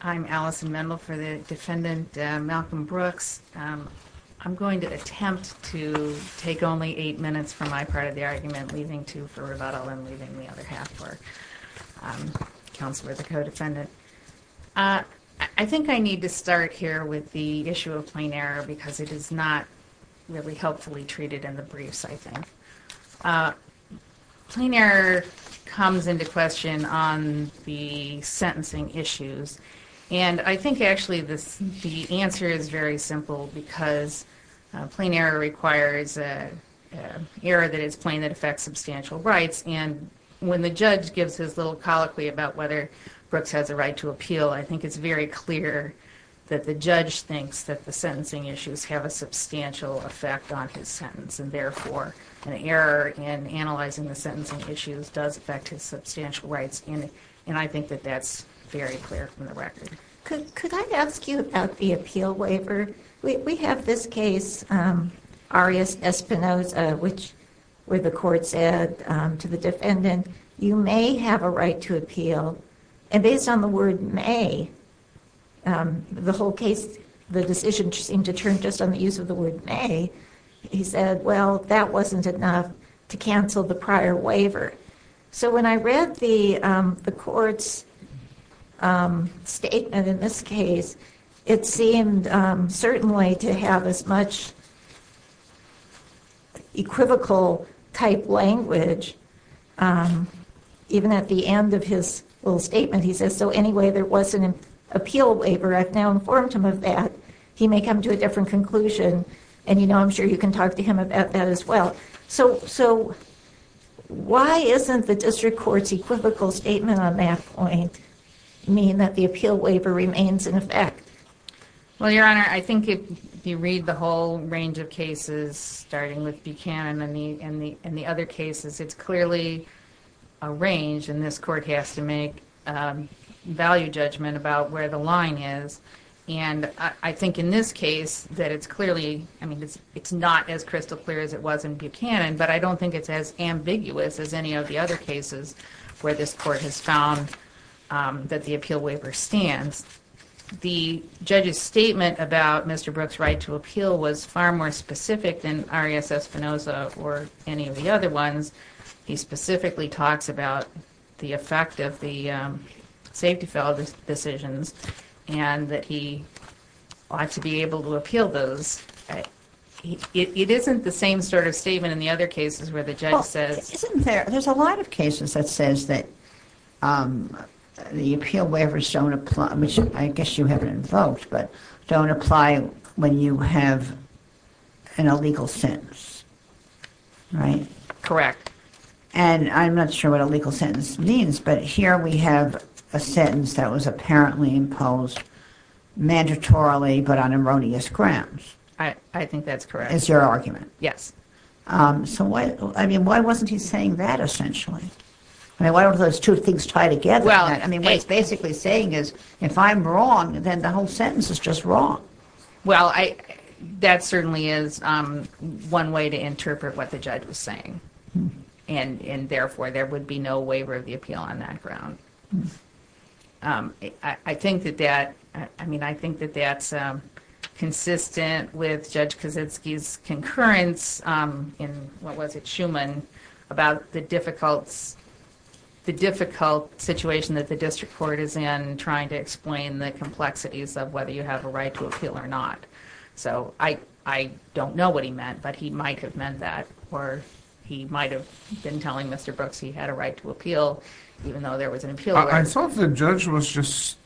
I'm Allison Mendel for the defendant Malcom Brooks. I'm going to attempt to take only eight minutes for my part of the argument, leaving two for rebuttal, and leaving the other half for counsel or the co-defendant. I think I need to start here with the issue of plain error because it is not really helpfully treated in the briefs, I think. Plain error comes into question on the sentencing issues, and I think actually the answer is very simple because plain error requires an error that is plain that affects substantial rights, and when the judge gives his little colloquy about whether Brooks has a right to appeal, I think it's very clear that the judge thinks that the sentencing issues have a substantial effect on his sentence, and therefore an error in analyzing the sentencing issues does affect his substantial rights, and I think that that's very clear from the record. Judge O'Connor Could I ask you about the appeal waiver? We have this case, Arias Espinoza, which where the court said to the defendant, you may have a right to appeal, and based on the may, he said, well, that wasn't enough to cancel the prior waiver. So when I read the court's statement in this case, it seemed certainly to have as much equivocal type language, even at the end of his little statement, he says, so anyway, there was appeal waiver. I've now informed him of that. He may come to a different conclusion, and you know, I'm sure you can talk to him about that as well. So why isn't the district court's equivocal statement on that point mean that the appeal waiver remains in effect? Judge O'Connor Well, Your Honor, I think if you read the whole range of cases, starting with Buchanan and the other cases, it's clearly a range, and this court has to make value judgment about where the line is. And I think in this case, that it's clearly, I mean, it's not as crystal clear as it was in Buchanan, but I don't think it's as ambiguous as any of the other cases where this court has found that the appeal waiver stands. The judge's statement about Mr. Brooks' right to appeal was far more specific than Arias other ones. He specifically talks about the effect of the safety fell decisions, and that he ought to be able to appeal those. It isn't the same sort of statement in the other cases where the judge says... Judge Fischer There's a lot of cases that says that the appeal waivers don't apply, which I guess you haven't invoked, but don't apply when you have an illegal sentence, right? Judge O'Connor Correct. Judge Fischer And I'm not sure what a legal sentence means, but here we have a sentence that was apparently imposed mandatorily, but on erroneous grounds. Judge O'Connor I think that's correct. Judge Fischer It's your argument. Judge O'Connor Yes. Judge Fischer So, I mean, why wasn't he saying that, essentially? I mean, why don't those two things tie together? I mean, what he's basically saying is, if I'm wrong, then the whole sentence is just wrong. Judge O'Connor Well, that certainly is one way to interpret what the judge was saying, and therefore there would be no waiver of the appeal on that ground. I mean, I think that that's consistent with Judge Kaczynski's concurrence in, what was it, Schuman, about the difficult situation that the district court is in, trying to explain the So, I don't know what he meant, but he might have meant that, or he might have been telling Mr. Brooks he had a right to appeal, even though there was an appeal. Judge Kaczynski I thought the judge was just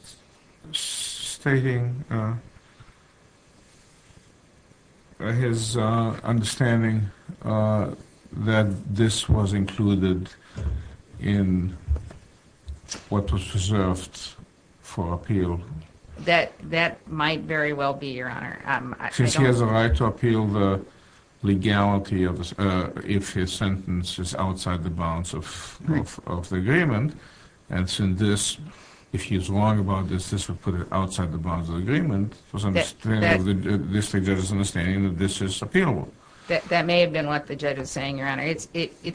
stating his understanding that this was included in what was reserved for appeal. Judge O'Connor That might very well be, Your Honor. Judge Kaczynski Since he has a right to appeal the legality if his sentence is outside the bounds of the agreement, and since this, if he is wrong about this, this would put it outside the bounds of the agreement, the district judge's understanding that this is appealable. Judge O'Connor That may have been what the judge was saying, Your Honor. It's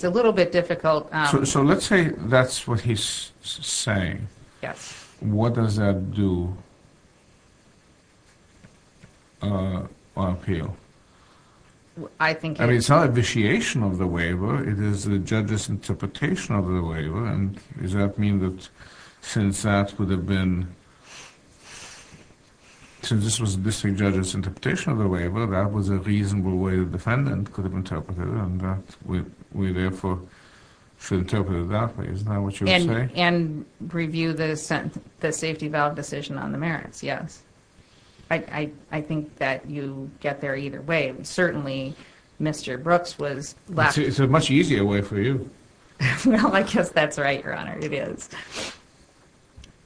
a little bit difficult. Judge Kaczynski So, let's say that's what he's saying. Judge O'Connor Yes. Judge Kaczynski What does that do on appeal? Judge O'Connor I think... Judge Kaczynski I mean, it's not a vitiation of the waiver. It is the judge's interpretation of the waiver, and does that mean that since that would have been, since this was the district judge's interpretation of the waiver, that was a reasonable way the defendant could have interpreted it, and that we therefore should interpret it that way. Isn't that what you were saying? And review the safety valve decision on the merits, yes. I think that you get there either way. Certainly, Mr. Brooks was left... Judge Kaczynski It's a much easier way for you. Judge O'Connor Well, I guess that's right, Your Honor. It is.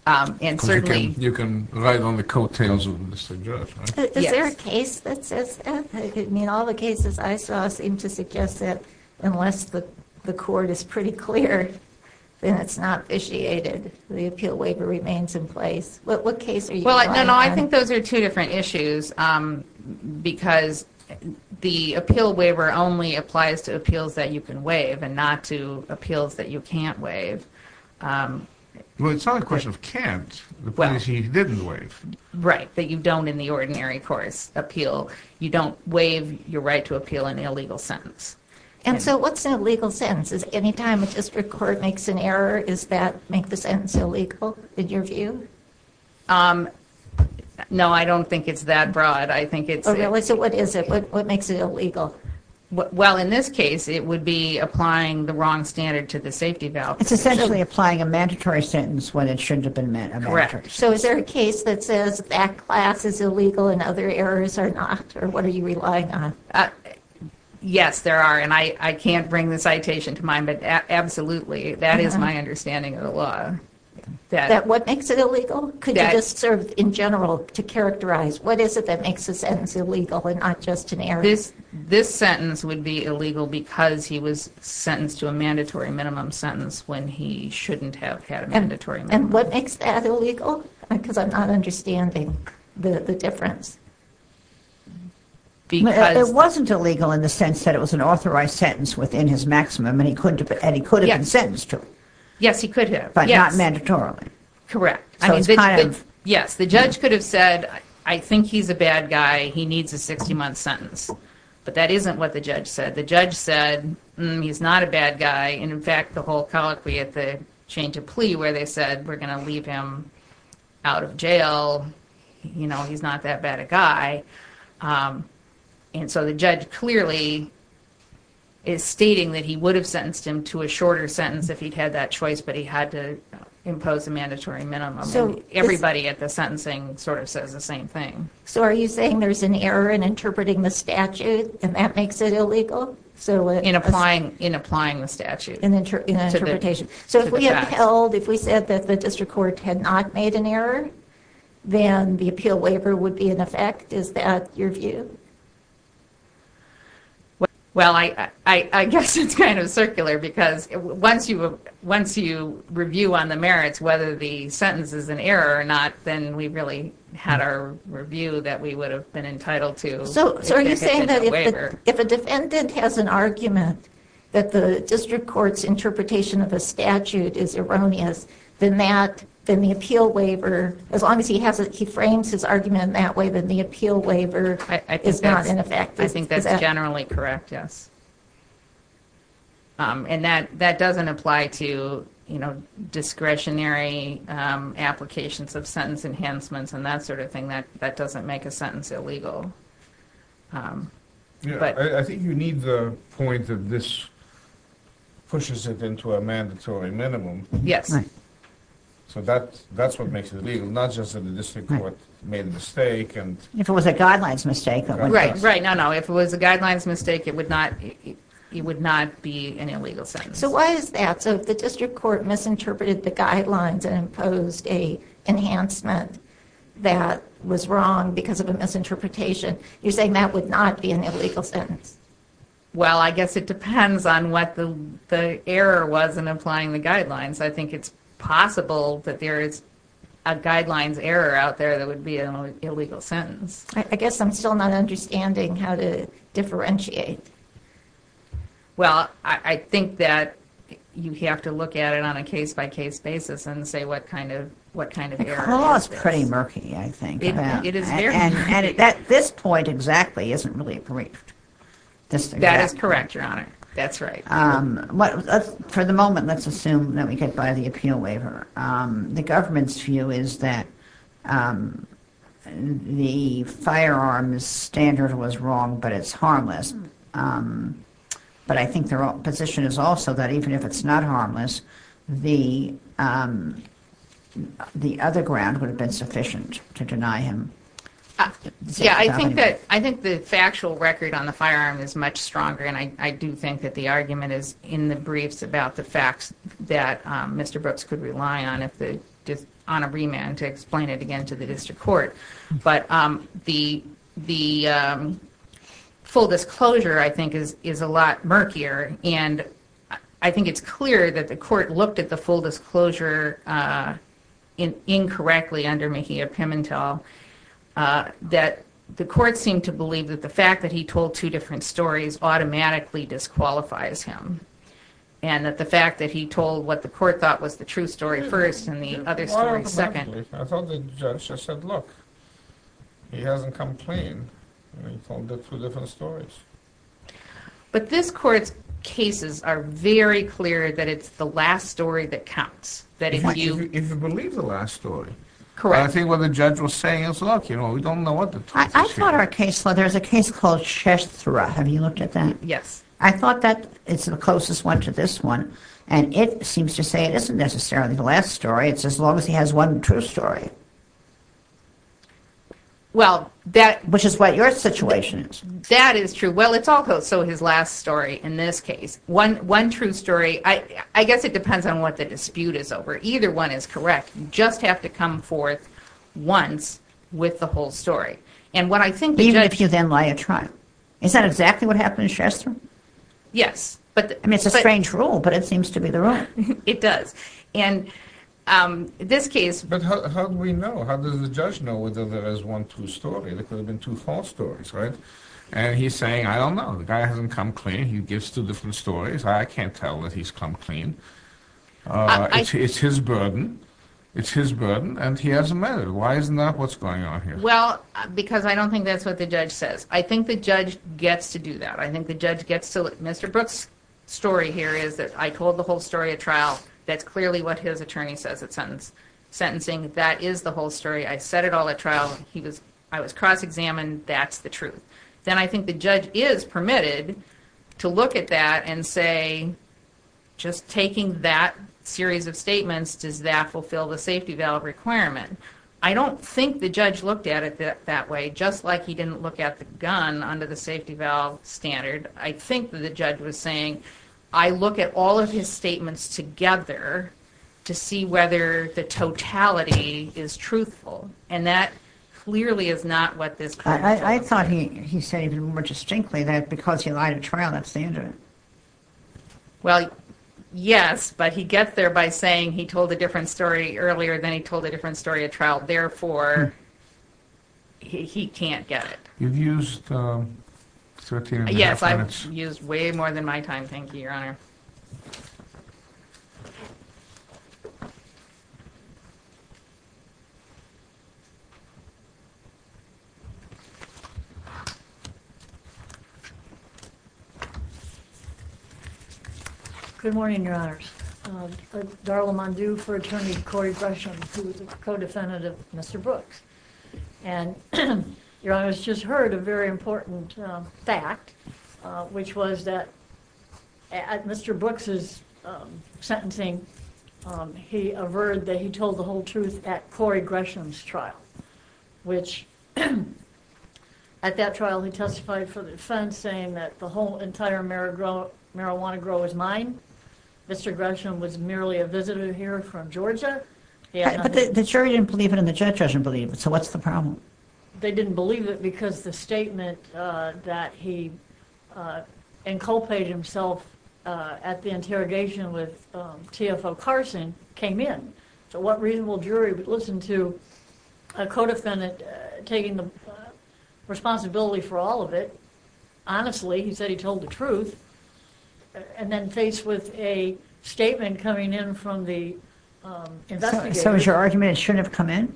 And certainly... Judge Kaczynski You can ride on the coattails of Mr. Judge. Judge O'Connor Is there a case that says that? I mean, all the cases I saw seem to suggest that unless the court is pretty clear, then it's not the appeal waiver remains in place. What case are you relying on? Judge Kaczynski Well, no, no, I think those are two different issues, because the appeal waiver only applies to appeals that you can waive, and not to appeals that you can't waive. Judge Kaczynski Well, it's not a question of can't, the point is that you didn't waive. Judge O'Connor Right, that you don't in the ordinary course appeal. You don't waive your right to appeal an illegal sentence. Judge Kaczynski And so what's an illegal sentence? Any time a district court makes an error, does that make the sentence illegal, in your view? Judge O'Connor No, I don't think it's that broad. Judge Kaczynski Oh, really? So what is it? What makes it illegal? Judge O'Connor Well, in this case, it would be applying the wrong standard to the safety valve. Judge Kaczynski It's essentially applying a mandatory sentence when it shouldn't have been met. Judge O'Connor Correct. Judge Kaczynski So is there a case that says that class is illegal and other errors are not? Or what are you relying on? Judge O'Connor Yes, there are. And I can't bring the citation to mind, but absolutely, that is my understanding of the law. Judge Kaczynski What makes it illegal? Could you just sort of in general to characterize what is it that makes a sentence illegal and not just an error? Judge O'Connor This sentence would be illegal because he was sentenced to a mandatory minimum sentence when he shouldn't have had a mandatory minimum. Judge Kaczynski And what makes that illegal? Because I'm not understanding the difference. Judge O'Connor It wasn't illegal in the sense that it was an authorized sentence within his maximum, and he could have been sentenced to. Judge Kaczynski Yes, he could have. Judge O'Connor But not mandatorily. Judge Kaczynski Correct. Judge Kaczynski Yes, the judge could have said, I think he's a bad guy. He needs a 60-month sentence. But that isn't what the judge said. The judge said, he's not a bad guy. And in fact, the whole colloquy at the chain to plea where they said, we're going to leave him out of jail, you know, he's not that bad a guy. And so the judge clearly is stating that he would have sentenced him to a shorter sentence if he'd had that choice, but he had to impose a mandatory minimum. Everybody at the sentencing sort of says the same thing. Judge O'Connor So are you saying there's an error in interpreting the statute, and that makes it illegal? Judge Kaczynski In applying the statute. Judge O'Connor So if we said that the district court had not made an error, then the appeal waiver would be in effect. Is that your view? Judge Kaczynski Well, I guess it's kind of circular, because once you review on the merits, whether the sentence is an error or not, then we really had our review that we would have been entitled to. Judge O'Connor So are you saying that if a defendant has an argument that the district court's interpretation of a statute is erroneous, then the appeal waiver, as long as he frames his argument that way, then the appeal waiver is not in effect? Judge Kaczynski I think that's generally correct, yes. And that doesn't apply to discretionary applications of sentence enhancements and that sort of thing. That doesn't make a sentence illegal. Judge Kaczynski I think you need the point that this pushes it into a mandatory minimum. Judge O'Connor Yes. Judge Kaczynski So that's what makes it illegal, not just that the district court made a mistake. Judge O'Connor If it was a guidelines mistake. Judge Kaczynski Right. No, no. If it was a guidelines mistake, it would not be an illegal sentence. Judge O'Connor So why is that? So if the district court misinterpreted the guidelines and imposed a enhancement that was wrong because of a misinterpretation, you're saying that would not be an illegal sentence? Judge Kaczynski Well, I guess it depends on what the error was in applying the guidelines. I think it's possible that there is a guidelines error out there that would be an illegal sentence. Judge O'Connor I guess I'm still not understanding how to differentiate. Judge Kaczynski Well, I think that you have to look at it on a case-by-case basis and say what kind of, what kind of error. Judge O'Connor The clause is pretty murky, I think. Judge Kaczynski It is very murky. Judge O'Connor And at this point exactly isn't really briefed. Judge Kaczynski That is correct, Your Honor. That's right. Judge O'Connor For the moment, let's assume that we get by the appeal waiver. The government's view is that the firearm's standard was wrong, but it's harmless. But I think their position is also that even if it's not harmless, the other ground would have been sufficient to deny him. Judge Kaczynski Yeah, I think that, I think the factual record on the firearm is much stronger, and I do think that the argument is in the briefs that Mr. Brooks could rely on a remand to explain it again to the district court. But the full disclosure, I think, is a lot murkier. And I think it's clear that the court looked at the full disclosure incorrectly under Mejia-Pimentel, that the court seemed to believe that the fact that disqualifies him, and that the fact that he told what the court thought was the true story first, and the other story second. Judge Kaczynski I thought the judge just said, look, he hasn't complained, and he told it through different stories. Judge O'Connor But this court's cases are very clear that it's the last story that counts. Judge Kaczynski If you believe the last story. Judge O'Connor Correct. Judge Kaczynski I think what the judge was saying is, look, you know, we don't know what the truth is here. Judge O'Connor I thought our case, well, there's a case called Chestra. Have you looked at that? I thought that it's the closest one to this one. And it seems to say it isn't necessarily the last story. It's as long as he has one true story. Judge Kaczynski Well, that Judge O'Connor Which is what your situation is. Judge Kaczynski That is true. Well, it's also his last story. In this case, one true story, I guess it depends on what the dispute is over. Either one is correct. You just have to come forth once with the whole story. And what I think Judge O'Connor Even if you then lie a trial. Is that exactly what happened in Chestra? Judge Kaczynski Yes. Judge O'Connor I mean, it's a strange rule, but it seems to be the rule. Judge Kaczynski It does. Judge Kaczynski And this case, Judge Kaczynski But how do we know? How does the judge know whether there is one true story? There could have been two false stories, right? And he's saying, I don't know. The guy hasn't come clean. He gives two different stories. I can't tell that he's come clean. It's his burden. It's his burden. And he hasn't met her. Why isn't that what's going on here? Judge Kaczynski Well, because I don't think that's what the judge says. I think the judge gets to do that. I think the judge gets to look. Mr. Brooks' story here is that I told the whole story at trial. That's clearly what his attorney says at sentencing. That is the whole story. I said it all at trial. I was cross-examined. That's the truth. Then I think the judge is permitted to look at that and say, just taking that series of statements, does that fulfill the safety valve requirement? I don't think the judge looked at it that way, just like he didn't look at the gun under the safety valve standard. I think that the judge was saying, I look at all of his statements together to see whether the totality is truthful. And that clearly is not what this claim is about. I thought he said even more distinctly that because he lied at trial, that's the end of it. Judge Kaczynski Well, yes. But he gets there by saying he told a different story earlier than he told a different story at trial. Therefore, he can't get it. LIEBERMAN Yes, I've used way more than my time. Thank you, Your Honor. MS. DARLA MONDU Good morning, Your Honors. Darla Mondu for Attorney Corey Gresham, who is a co-defendant of Mr. Brooks. And Your Honor, I just heard a very important fact, which was that at Mr. Brooks's sentencing, he averred that he told the whole truth at Corey Gresham's trial, which at that trial, he testified for the defense saying that the whole entire marijuana grow was mine. Mr. Gresham was merely a visitor here from Georgia. But the jury didn't believe it and the judge doesn't believe it. So what's the problem? MS. DARLA MONDU They didn't believe it because the statement that he inculcated himself at the interrogation with TFO Carson came in. So what reasonable jury would listen to a co-defendant taking the responsibility for all of it? Honestly, he said he told the truth. And then faced with a statement coming in from the investigator. So is your argument it shouldn't have come in?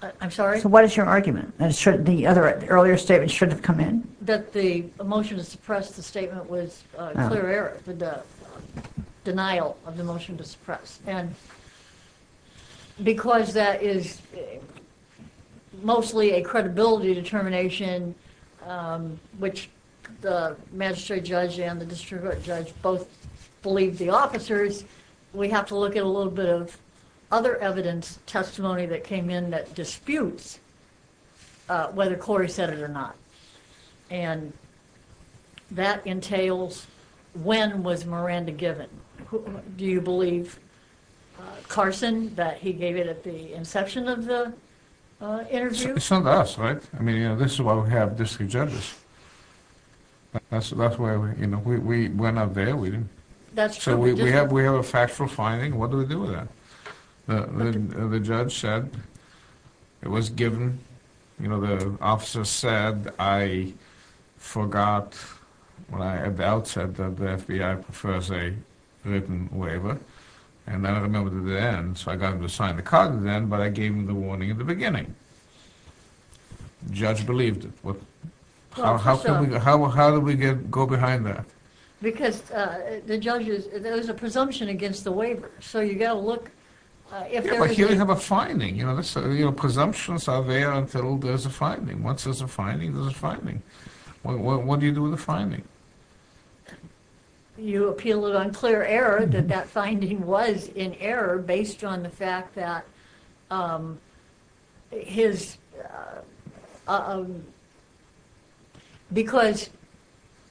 MS. DARLA MONDU I'm sorry? MS. NIEUSMA So what is your argument? That the earlier statement shouldn't have come in? MS. DARLA MONDU That the motion to suppress the statement was clear error, the denial of the motion to suppress. And because that is mostly a credibility determination, which the magistrate judge and the district judge both believe the officers, we have to look at a little bit of other evidence, testimony that came in that disputes whether Corey said it or not. And that entails when was Miranda given? Do you believe, Carson, that he gave it at the inception of the interview? MR. CARSON It's not us, right? I mean, this is why we have district judges. That's why we're not there. So we have a factual finding. What do we do with that? The judge said it was given. You know, the officer said I forgot at the outset that the FBI prefers a written waiver. And I don't remember the end. So I got him to sign the card then, but I gave him the warning at the beginning. Judge believed it. How do we go behind that? Because the judge is, there's a presumption against the waiver. So you got to look. MR. LEVIN But here we have a finding. You know, presumptions are there until there's a finding. Once there's a finding, there's a finding. What do you do with the finding? MRS. MOSS You appeal it on clear error that that finding was in error based on the fact that his, um, because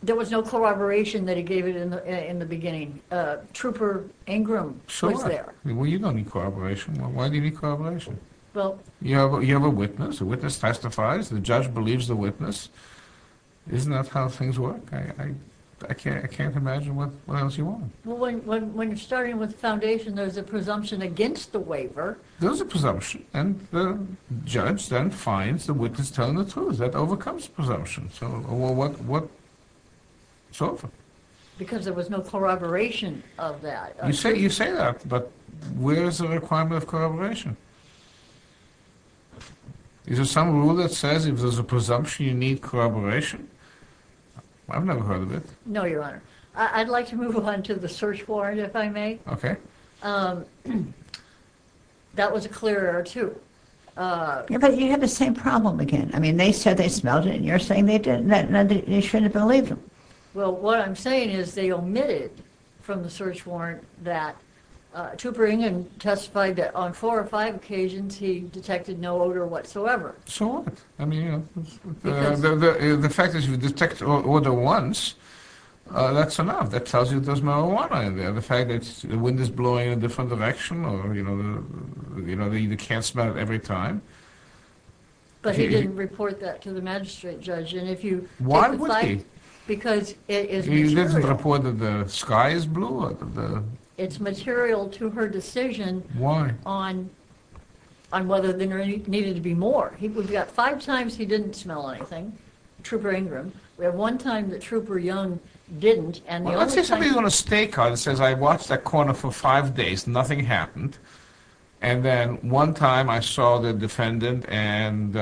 there was no corroboration that he gave it in the beginning. Trooper Ingram was there. MR. LEVIN Well, you don't need corroboration. Why do you need corroboration? MRS. MOSS Well. MR. LEVIN You have a witness. A witness testifies. The judge believes the witness. Isn't that how things work? I can't imagine what else you want. MRS. MOSS Well, when you're starting with the foundation, there's a presumption against the waiver. MR. LEVIN There's a presumption. And the judge then finds the witness telling the truth. That overcomes presumption. So what, what, so what? MRS. MOSS Because there was no corroboration of that. MR. LEVIN You say, you say that. But where is the requirement of corroboration? Is there some rule that says if there's a presumption, you need corroboration? I've never heard of it. MRS. MOSS No, Your Honor. I'd like to move on to the search warrant, if I may. MR. LEVIN Okay. MRS. MOSS That was a clear error, too. MRS. MOSS But you have the same problem again. I mean, they said they smelled it. And you're saying they didn't. And they shouldn't have believed them. MRS. MOSS Well, what I'm saying is they omitted from the search warrant that Tupper Ingan testified that on four or five occasions, he detected no odor whatsoever. MR. LEVIN So what? I mean, the fact that you detect odor once, that's enough. That tells you there's marijuana in there. The fact that the wind is blowing in a different direction, or, you know, you can't smell it every time. MRS. MOSS But he didn't report that to the magistrate judge. MR. LEVIN Why would he? MRS. MOSS Because it is material. MR. LEVIN He didn't report that the sky is blue? MRS. MOSS It's material to her decision on whether there needed to be more. He got five times he didn't smell anything, Tupper Ingram. We have one time that Tupper Young didn't. MR. LEVIN Well, let's say somebody's on a state car that says, I watched that corner for five days, nothing happened. And then one time I saw the defendant and,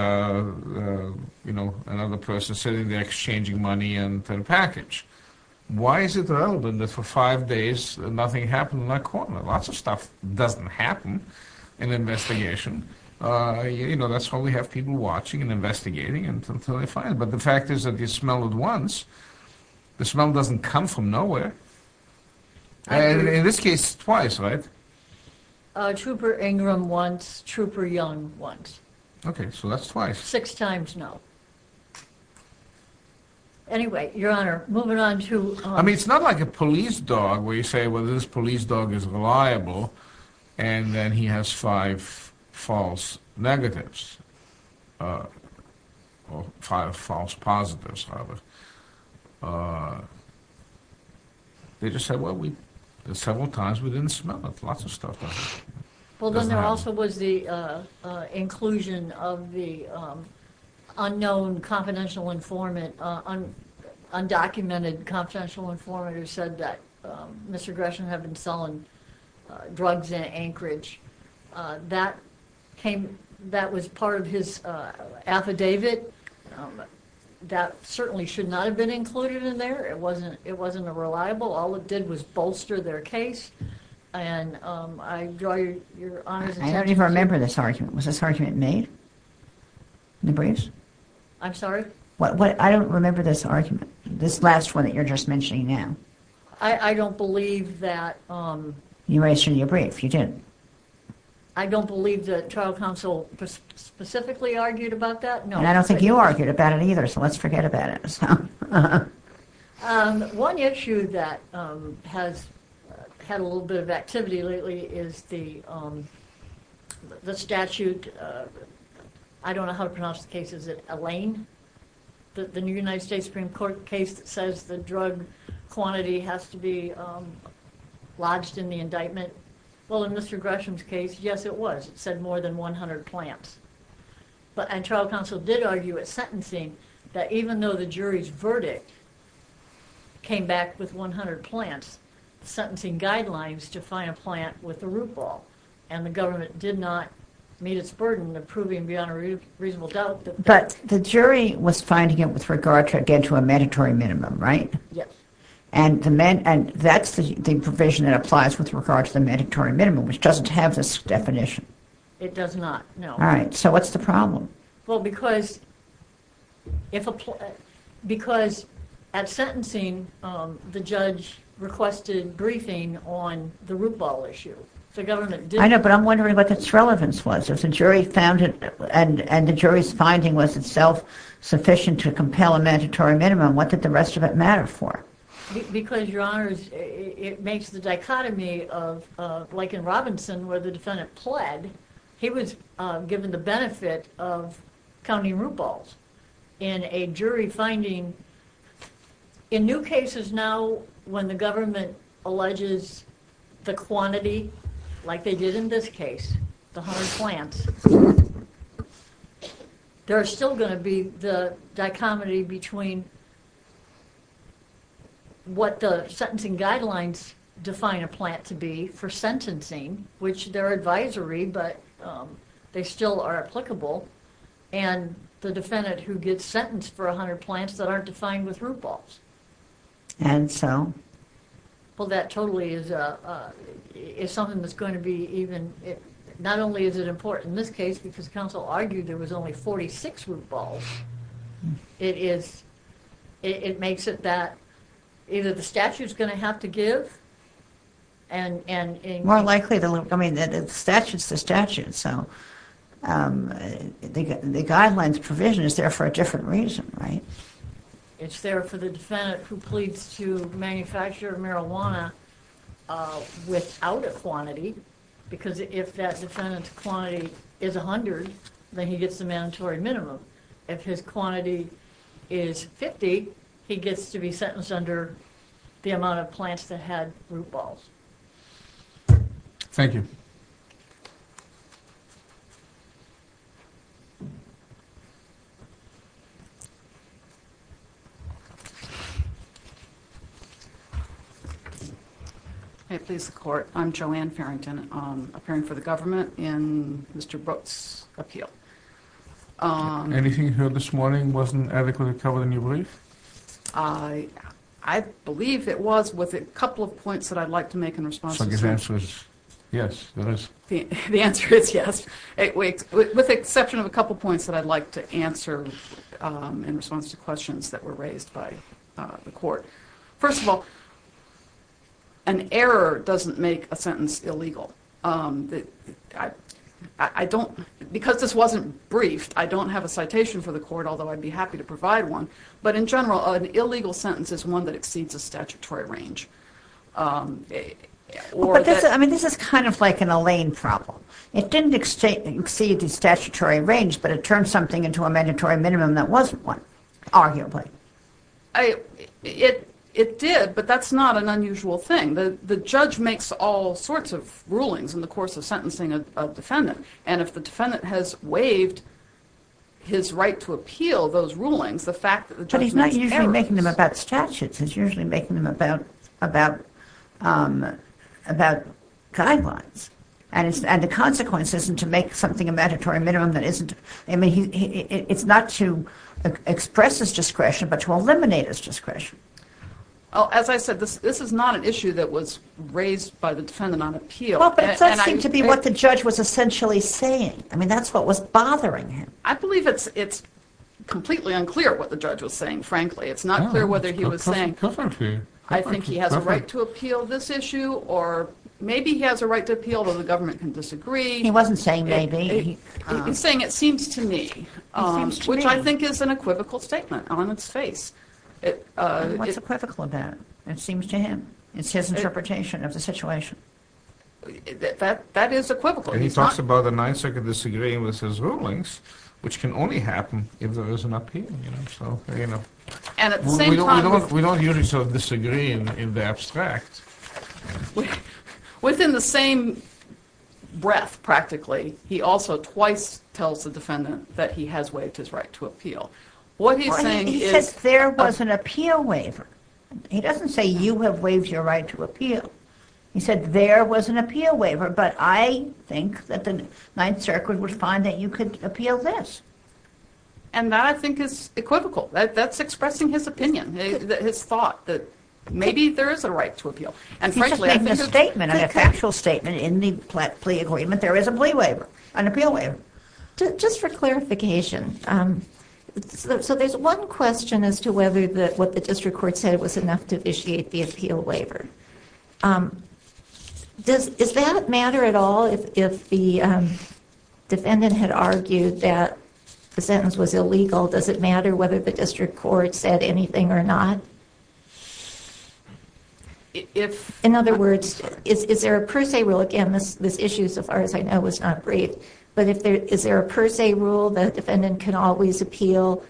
you know, another person sitting there exchanging money and a package. Why is it relevant that for five days nothing happened in that corner? Lots of stuff doesn't happen in an investigation. You know, that's how we have people watching and investigating until they find it. But the fact is that you smell it once, the smell doesn't come from nowhere. And in this case, twice, right? MRS. MOSS Tupper Ingram once, Tupper Young once. MR. LEVIN Okay, so that's twice. MRS. MOSS Six times, no. Anyway, Your Honor, moving on to... MR. LEVIN I mean, it's not like a police dog where you say, well, this police dog is reliable and then he has five false negatives. They just said, well, several times we didn't smell it, lots of stuff doesn't happen. MRS. MOSS Tupper Well, then there also was the inclusion of the unknown confidential informant, undocumented confidential informant who said that Mr. Gresham had been selling drugs in Anchorage. That came, that was part of his affidavit. That certainly should not have been included in there. It wasn't, it wasn't a reliable. All it did was bolster their case. And I draw your, Your Honor's attention... MRS. LEVIN I don't even remember this argument. Was this argument made in the briefs? MRS. MOSS Tupper I'm sorry? MRS. LEVIN What, I don't remember this argument, this last one that you're just mentioning now. MRS. MOSS Tupper I don't believe that... MRS. LEVIN You raised it in your brief, you did. MRS. MOSS Tupper I don't believe the trial counsel specifically argued about that, no. MRS. LEVIN I don't think you argued about it either, so let's forget about it. MRS. MOSS Tupper One issue that has had a little bit of activity lately is the statute, I don't know how to pronounce the case, is it Elaine? The United States Supreme Court case that says the drug quantity has to be lodged in the indictment. Well, in Mr. Gresham's case, yes it was, it said more than 100 plants, but trial counsel did argue at sentencing that even though the jury's verdict came back with 100 plants, the sentencing guidelines to find a plant with a root ball and the government did not meet its burden of proving beyond a reasonable doubt... MRS. LEVIN But the jury was finding it with regard to a mandatory minimum, right? MRS. MOSS Tupper Yes. MRS. LEVIN And that's the provision that applies with regard to the mandatory minimum, which doesn't have this definition. MRS. MOSS Tupper It does not, no. MRS. LEVIN All right, so what's the problem? MRS. MOSS Tupper Well, because at sentencing, the judge requested briefing on the root ball issue. The government didn't... MRS. LEVIN I know, but I'm wondering what its relevance was. If the jury found it and the jury's finding was itself sufficient to compel a mandatory minimum, what did the rest of it matter for? MRS. MOSS Tupper Because, Your Honors, it makes the dichotomy of, like in Robinson, where the defendant pled, he was given the benefit of counting root balls. In a jury finding, in new cases now when the government alleges the quantity, like they did in this case, the 100 plants, there's still going to be the dichotomy between what the sentencing guidelines define a plant to be for sentencing, which they're advisory, but they still are applicable, and the defendant who gets sentenced for 100 plants that aren't defined with root balls. MRS. LEVIN And so? MRS. MOSS Tupper Well, that totally is something that's going to be even, not only is it important in this case, because counsel argued there was only 46 root balls, it is, it makes it that either the statute's going to have to give and... MRS. LEVIN More likely, I mean, the statute's the statute, so the guidelines provision is there for a different reason, right? MRS. MOSS Tupper It's there for the defendant who pleads to quantity, because if that defendant's quantity is 100, then he gets the mandatory minimum. If his quantity is 50, he gets to be sentenced under the amount of plants that had root balls. MR. RAUMENBERG Thank you. MS. FARRINGTON May it please the Court, I'm Joanne Farrington, appearing for the government in Mr. Brooks' appeal. MR. RAUMENBERG Anything you heard this morning wasn't adequately covered in your brief? MS. FARRINGTON I believe it was, with a couple of points that I'd like to make in response to... MR. RAUMENBERG Yes, it is. MS. FARRINGTON The answer is yes. With the exception of a couple of points that I'd like to answer in response to questions that were raised by the Court. First of all, an error doesn't make a sentence illegal. Because this wasn't briefed, I don't have a citation for the Court, although I'd be happy to provide one, but in general, an illegal sentence is one that exceeds a statutory range. MS. FARRINGTON But this is kind of like an Alain problem. It didn't exceed the statutory range, but it turned something into a mandatory minimum that wasn't one, arguably. MS. RAUMENBERG It did, but that's not an unusual thing. The judge makes all sorts of rulings in the course of sentencing a defendant. And if the defendant has waived his right to appeal those rulings, the fact that the judge... MS. FARRINGTON But he's not usually making them about statutes. He's usually making them about guidelines, and the consequence isn't to make something a mandatory minimum that isn't... It's not to express his discretion, but to eliminate his discretion. MS. RAUMENBERG As I said, this is not an issue that was raised by the defendant on appeal. MS. FARRINGTON But that seemed to be what the judge was essentially saying. I mean, that's what was bothering him. MS. RAUMENBERG I believe it's completely unclear what the judge was saying, frankly. It's not clear whether he was saying, I think he has a right to appeal this issue, or maybe he has a right to appeal when the government can disagree. MS. FARRINGTON He wasn't saying maybe. MS. RAUMENBERG He was saying, it seems to me, which I think is an equivocal statement on its face. MS. FARRINGTON What's equivocal about it? It seems to him. It's his interpretation of the situation. MS. RAUMENBERG That is equivocal. MR. STEINER And he talks about the Ninth Circuit disagreeing with his rulings, which can only happen if there is an appeal. MS. RAUMENBERG We don't usually disagree in the abstract. MS. FARRINGTON Within the same breath, practically, he also twice tells the defendant that he has waived his right to appeal. MS. RAUMENBERG He says there was an appeal waiver. He doesn't say you have waived your right to appeal. He said there was an appeal waiver, but I think that the Ninth Circuit would find that you could appeal this. And that, I think, is equivocal. That's expressing his opinion, his thought, that maybe there is a right to appeal. MS. RAUMENBERG He's just making a statement, a factual statement. In the plea agreement, there is a plea waiver, an appeal waiver. MS. RAUMENBERG Just for clarification, there's one question as to whether what the district court said was enough to initiate the appeal waiver. Does that matter at all if the defendant had argued that the sentence was illegal? Does it matter whether the district court said anything or not? MS. FARRINGTON In other words, is there a per se rule? Again, this issue, so far as I know, was not briefed. But is there a per se rule that a defendant can always appeal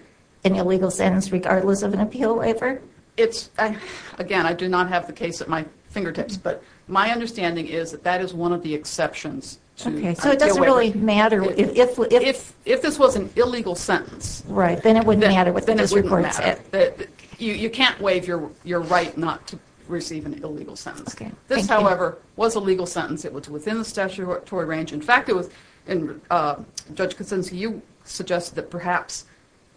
an illegal sentence regardless of an appeal waiver? MS. RAUMENBERG Again, I do not have the case of that. But my understanding is that that is one of the exceptions. MS. FARRINGTON Okay. So it doesn't really matter if... MS. RAUMENBERG If this was an illegal sentence... MS. FARRINGTON Right. Then it wouldn't matter what the district court said. MS. RAUMENBERG You can't waive your right not to receive an illegal sentence. MS. FARRINGTON Okay. MS. RAUMENBERG This, however, was a legal sentence. It was within the statutory range. In fact, Judge Kosinski, you suggested that perhaps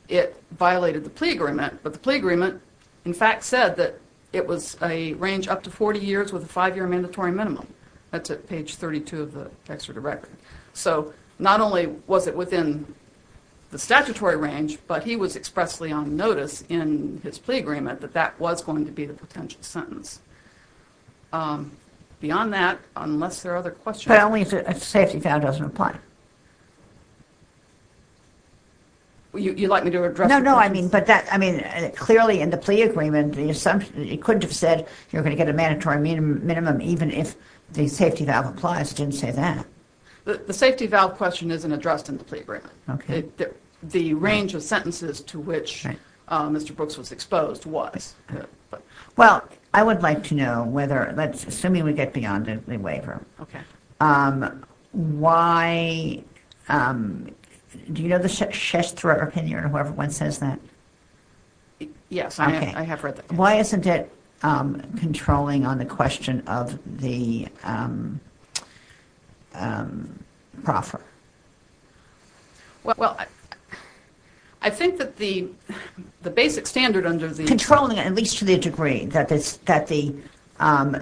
it violated the plea agreement. But the plea agreement, in fact, said that it was a range up to 40 years with a five-year mandatory minimum. That's at page 32 of the extradirectory. So not only was it within the statutory range, but he was expressly on notice in his plea agreement that that was going to be the potential sentence. Beyond that, unless there are other questions... MS. FARRINGTON But only if a safety foul doesn't apply. MS. RAUMENBERG You'd like me to address... I mean, clearly in the plea agreement, it couldn't have said you're going to get a mandatory minimum even if the safety valve applies. It didn't say that. MS. FARRINGTON The safety valve question isn't addressed in the plea agreement. The range of sentences to which Mr. Brooks was exposed was. MS. RAUMENBERG Well, I would like to know whether, let's assume we get beyond the waiver, why... Do you know the Chester opinion or whoever says that? MS. FARRINGTON Yes, I have read that. MS. RAUMENBERG Why isn't it controlling on the question of the proffer? MS. FARRINGTON Well, I think that the basic standard under the... MS. RAUMENBERG Controlling, at least to the degree that the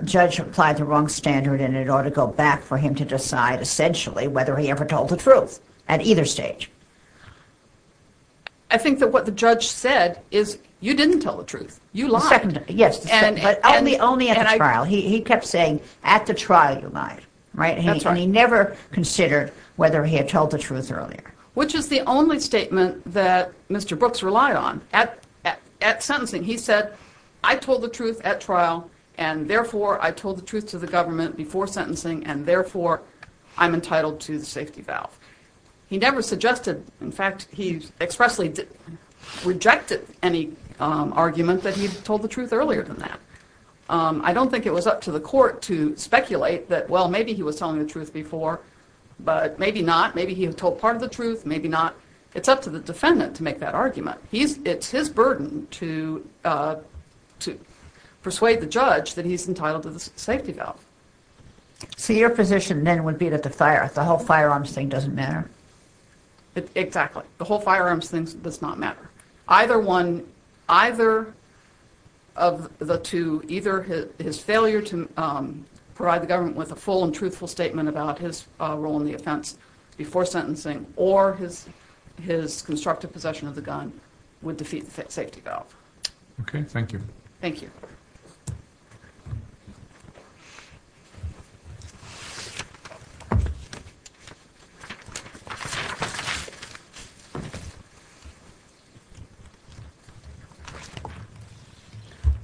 judge applied the wrong standard and it ought to go back for him to decide essentially whether he ever told the truth at either stage. MS. FARRINGTON I think that what the judge said is, you didn't tell the truth, you lied. MS. RAUMENBERG Yes, but only at the trial. He kept saying, at the trial you lied, right? MS. FARRINGTON That's right. MS. RAUMENBERG And he never considered whether he had told the truth earlier. MS. FARRINGTON Which is the only statement that Mr. Brooks relied on. At sentencing, he said, I told the truth at trial and therefore I told the truth to the jury before sentencing and therefore I'm entitled to the safety valve. He never suggested, in fact, he expressly rejected any argument that he had told the truth earlier than that. I don't think it was up to the court to speculate that, well, maybe he was telling the truth before, but maybe not, maybe he had told part of the truth, maybe not. It's up to the defendant to make that argument. It's his burden to persuade the judge that he's entitled to the safety valve. MS. RAUMENBERG So your position then would be that the fire, the whole firearms thing doesn't matter? MS. FARRINGTON Exactly. The whole firearms thing does not matter. Either one, either of the two, either his failure to provide the government with a full and truthful statement about his role in the offense before sentencing or his constructive possession of the gun would defeat the safety valve. MR. RAUMENBERG Okay. Thank you. MS. FARRINGTON Thank you. MR. FARRINGTON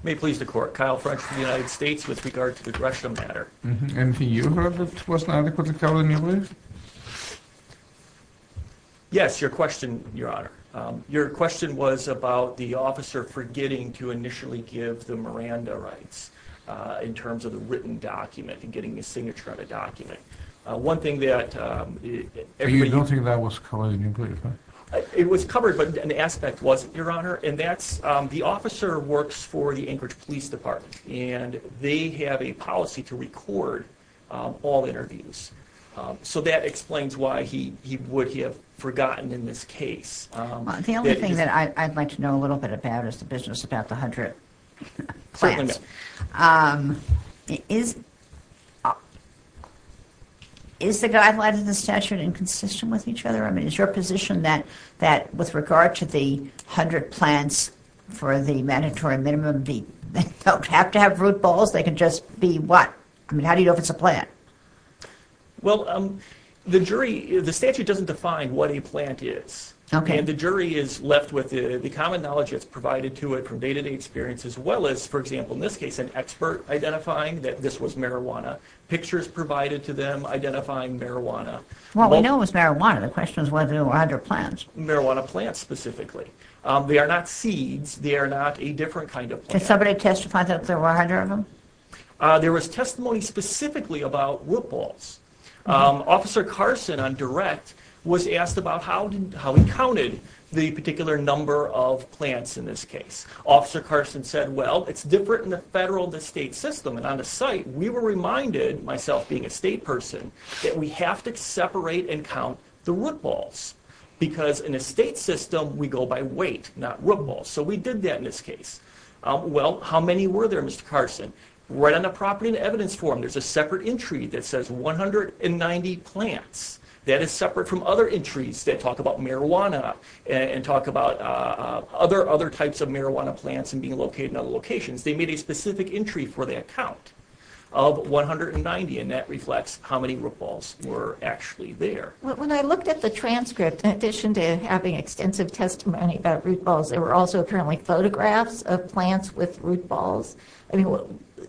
May please the court. Kyle French from the United States with regard to the Gresham matter. MR. RAUMENBERG And you heard that it was not adequately covered in your brief? MR. FARRINGTON Yes, your question, Your Honor. Your question was about the officer forgetting to initially give the Miranda rights in terms of the written document and getting a signature on a document. One thing that everybody... RAUMENBERG You don't think that was covered in your brief? MR. FARRINGTON It was covered, but an aspect wasn't, Your Honor. And that's the officer works for the Anchorage Police Department, and they have a policy to record all interviews. So that explains why he would have forgotten in this case. MS. RAUMENBERG The only thing that I'd like to know a little bit about is the business about the 100 plants. Is the guideline in the statute inconsistent with each other? I mean, is your position that with regard to the 100 plants for the mandatory minimum, they don't have to have root balls? They can just be what? I mean, how do you know if it's a plant? MR. RAUMENBERG Well, the jury... The statute doesn't define what a plant is. MS. RAUMENBERG Okay. MR. RAUMENBERG And the jury is left with the common knowledge that's provided to it from day-to-day experience, as well as, for example, in this case, an expert identifying that this was marijuana, pictures provided to them identifying marijuana. MS. RAUMENBERG What we know is marijuana. The question is whether there were 100 plants. MR. RAUMENBERG Marijuana plants specifically. They are not a different kind of plant. MS. RAUMENBERG Can somebody testify that there were 100 of them? MR. RAUMENBERG There was testimony specifically about root balls. Officer Carson on direct was asked about how he counted the particular number of plants in this case. Officer Carson said, well, it's different in the federal, the state system. And on the site, we were reminded, myself being a state person, that we have to separate and count the root balls because in a state system, we go by weight, not root balls. So we did that in this case. Well, how many were there, Mr. Carson? Right on the property and evidence form, there's a separate entry that says 190 plants. That is separate from other entries that talk about marijuana and talk about other types of marijuana plants and being located in other locations. They made a specific entry for that count of 190, and that reflects how many root balls were actually there. MS. RAUMENBERG When I looked at the transcript, in addition to having extensive testimony about root balls, there were also currently photographs of plants with root balls.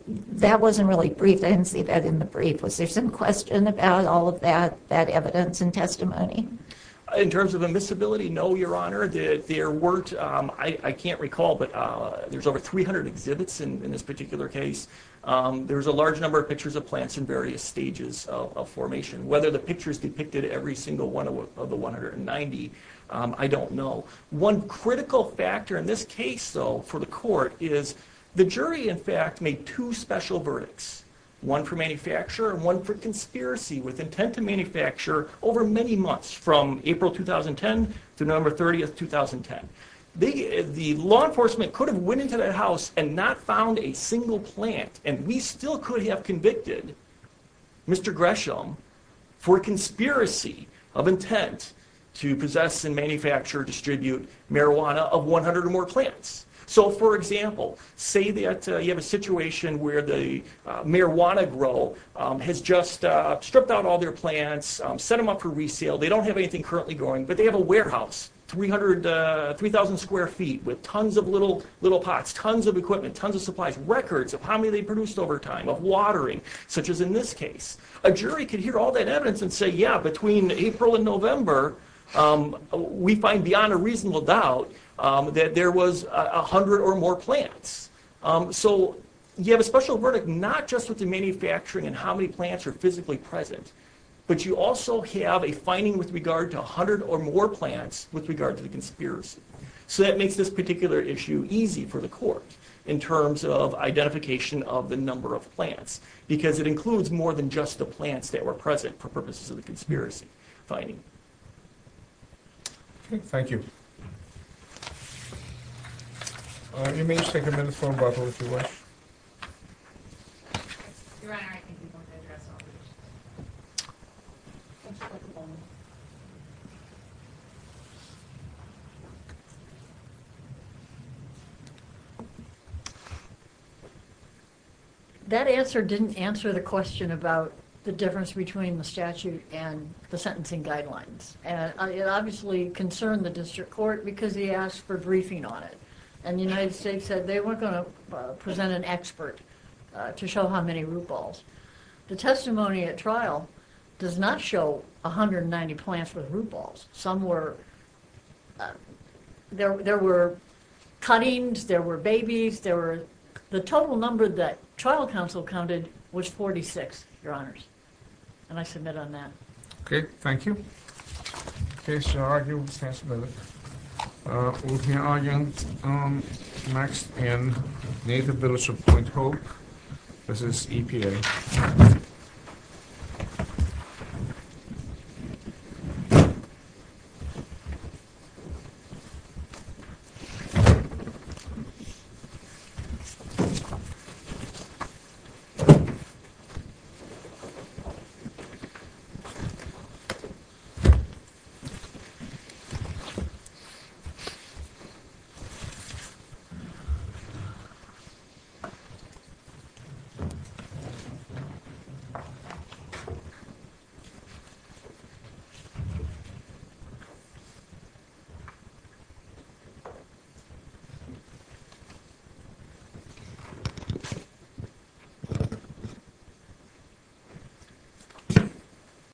That wasn't really brief. I didn't see that in the brief. Was there some question about all of that evidence and testimony? MR. RAUMENBERG In terms of admissibility, no, Your Honor. There weren't, I can't recall, but there's over 300 exhibits in this particular case. There's a large number of pictures of plants in various stages of formation. Whether the pictures depicted every single one of the 190, I don't know. One critical factor in this case, though, for the court is the jury, in fact, made two special verdicts, one for manufacturer and one for conspiracy with intent to manufacture over many months, from April 2010 to November 30, 2010. The law enforcement could have went into that house and not found a single plant, and we still could have convicted Mr. Gresham for conspiracy of intent to possess and manufacture, distribute marijuana of 100 or more plants. So, for example, say that you have a situation where the marijuana grow has just stripped out all their plants, set them up for resale. They don't have anything currently growing, but they have a warehouse, 3,000 square feet with tons of little pots, tons of equipment, tons of supplies, records of how many they produced over time, of watering, such as in this case. A jury could hear all that evidence and say, yeah, between April and November, we find beyond a reasonable doubt that there was 100 or more plants. So you have a special verdict not just with the manufacturing and how many plants are physically present, but you also have a finding with regard to 100 or more plants with regard to the conspiracy. So that makes this particular issue easy for the court in terms of identification of the number of plants, because it includes more than just the plants that were present for purposes of the conspiracy finding. Okay, thank you. You may take a minute for rebuttal if you wish. Your Honor, I think we both addressed all of your questions. That answer didn't answer the question about the difference between the statute and the sentencing guidelines. And it obviously concerned the district court because he asked for a briefing on it. And the United States said they weren't going to present an expert to show how many root balls. The testimony at trial does not show 190 plants with root balls. Some were, there were cuttings, there were babies, there were, the total number that trial counsel counted was 46, Your Honors. And I submit on that. Okay, thank you. Okay, Your Honor, I yield the testimony. Okay, Your Honor, next in Native Village of Point Hope. This is EPA.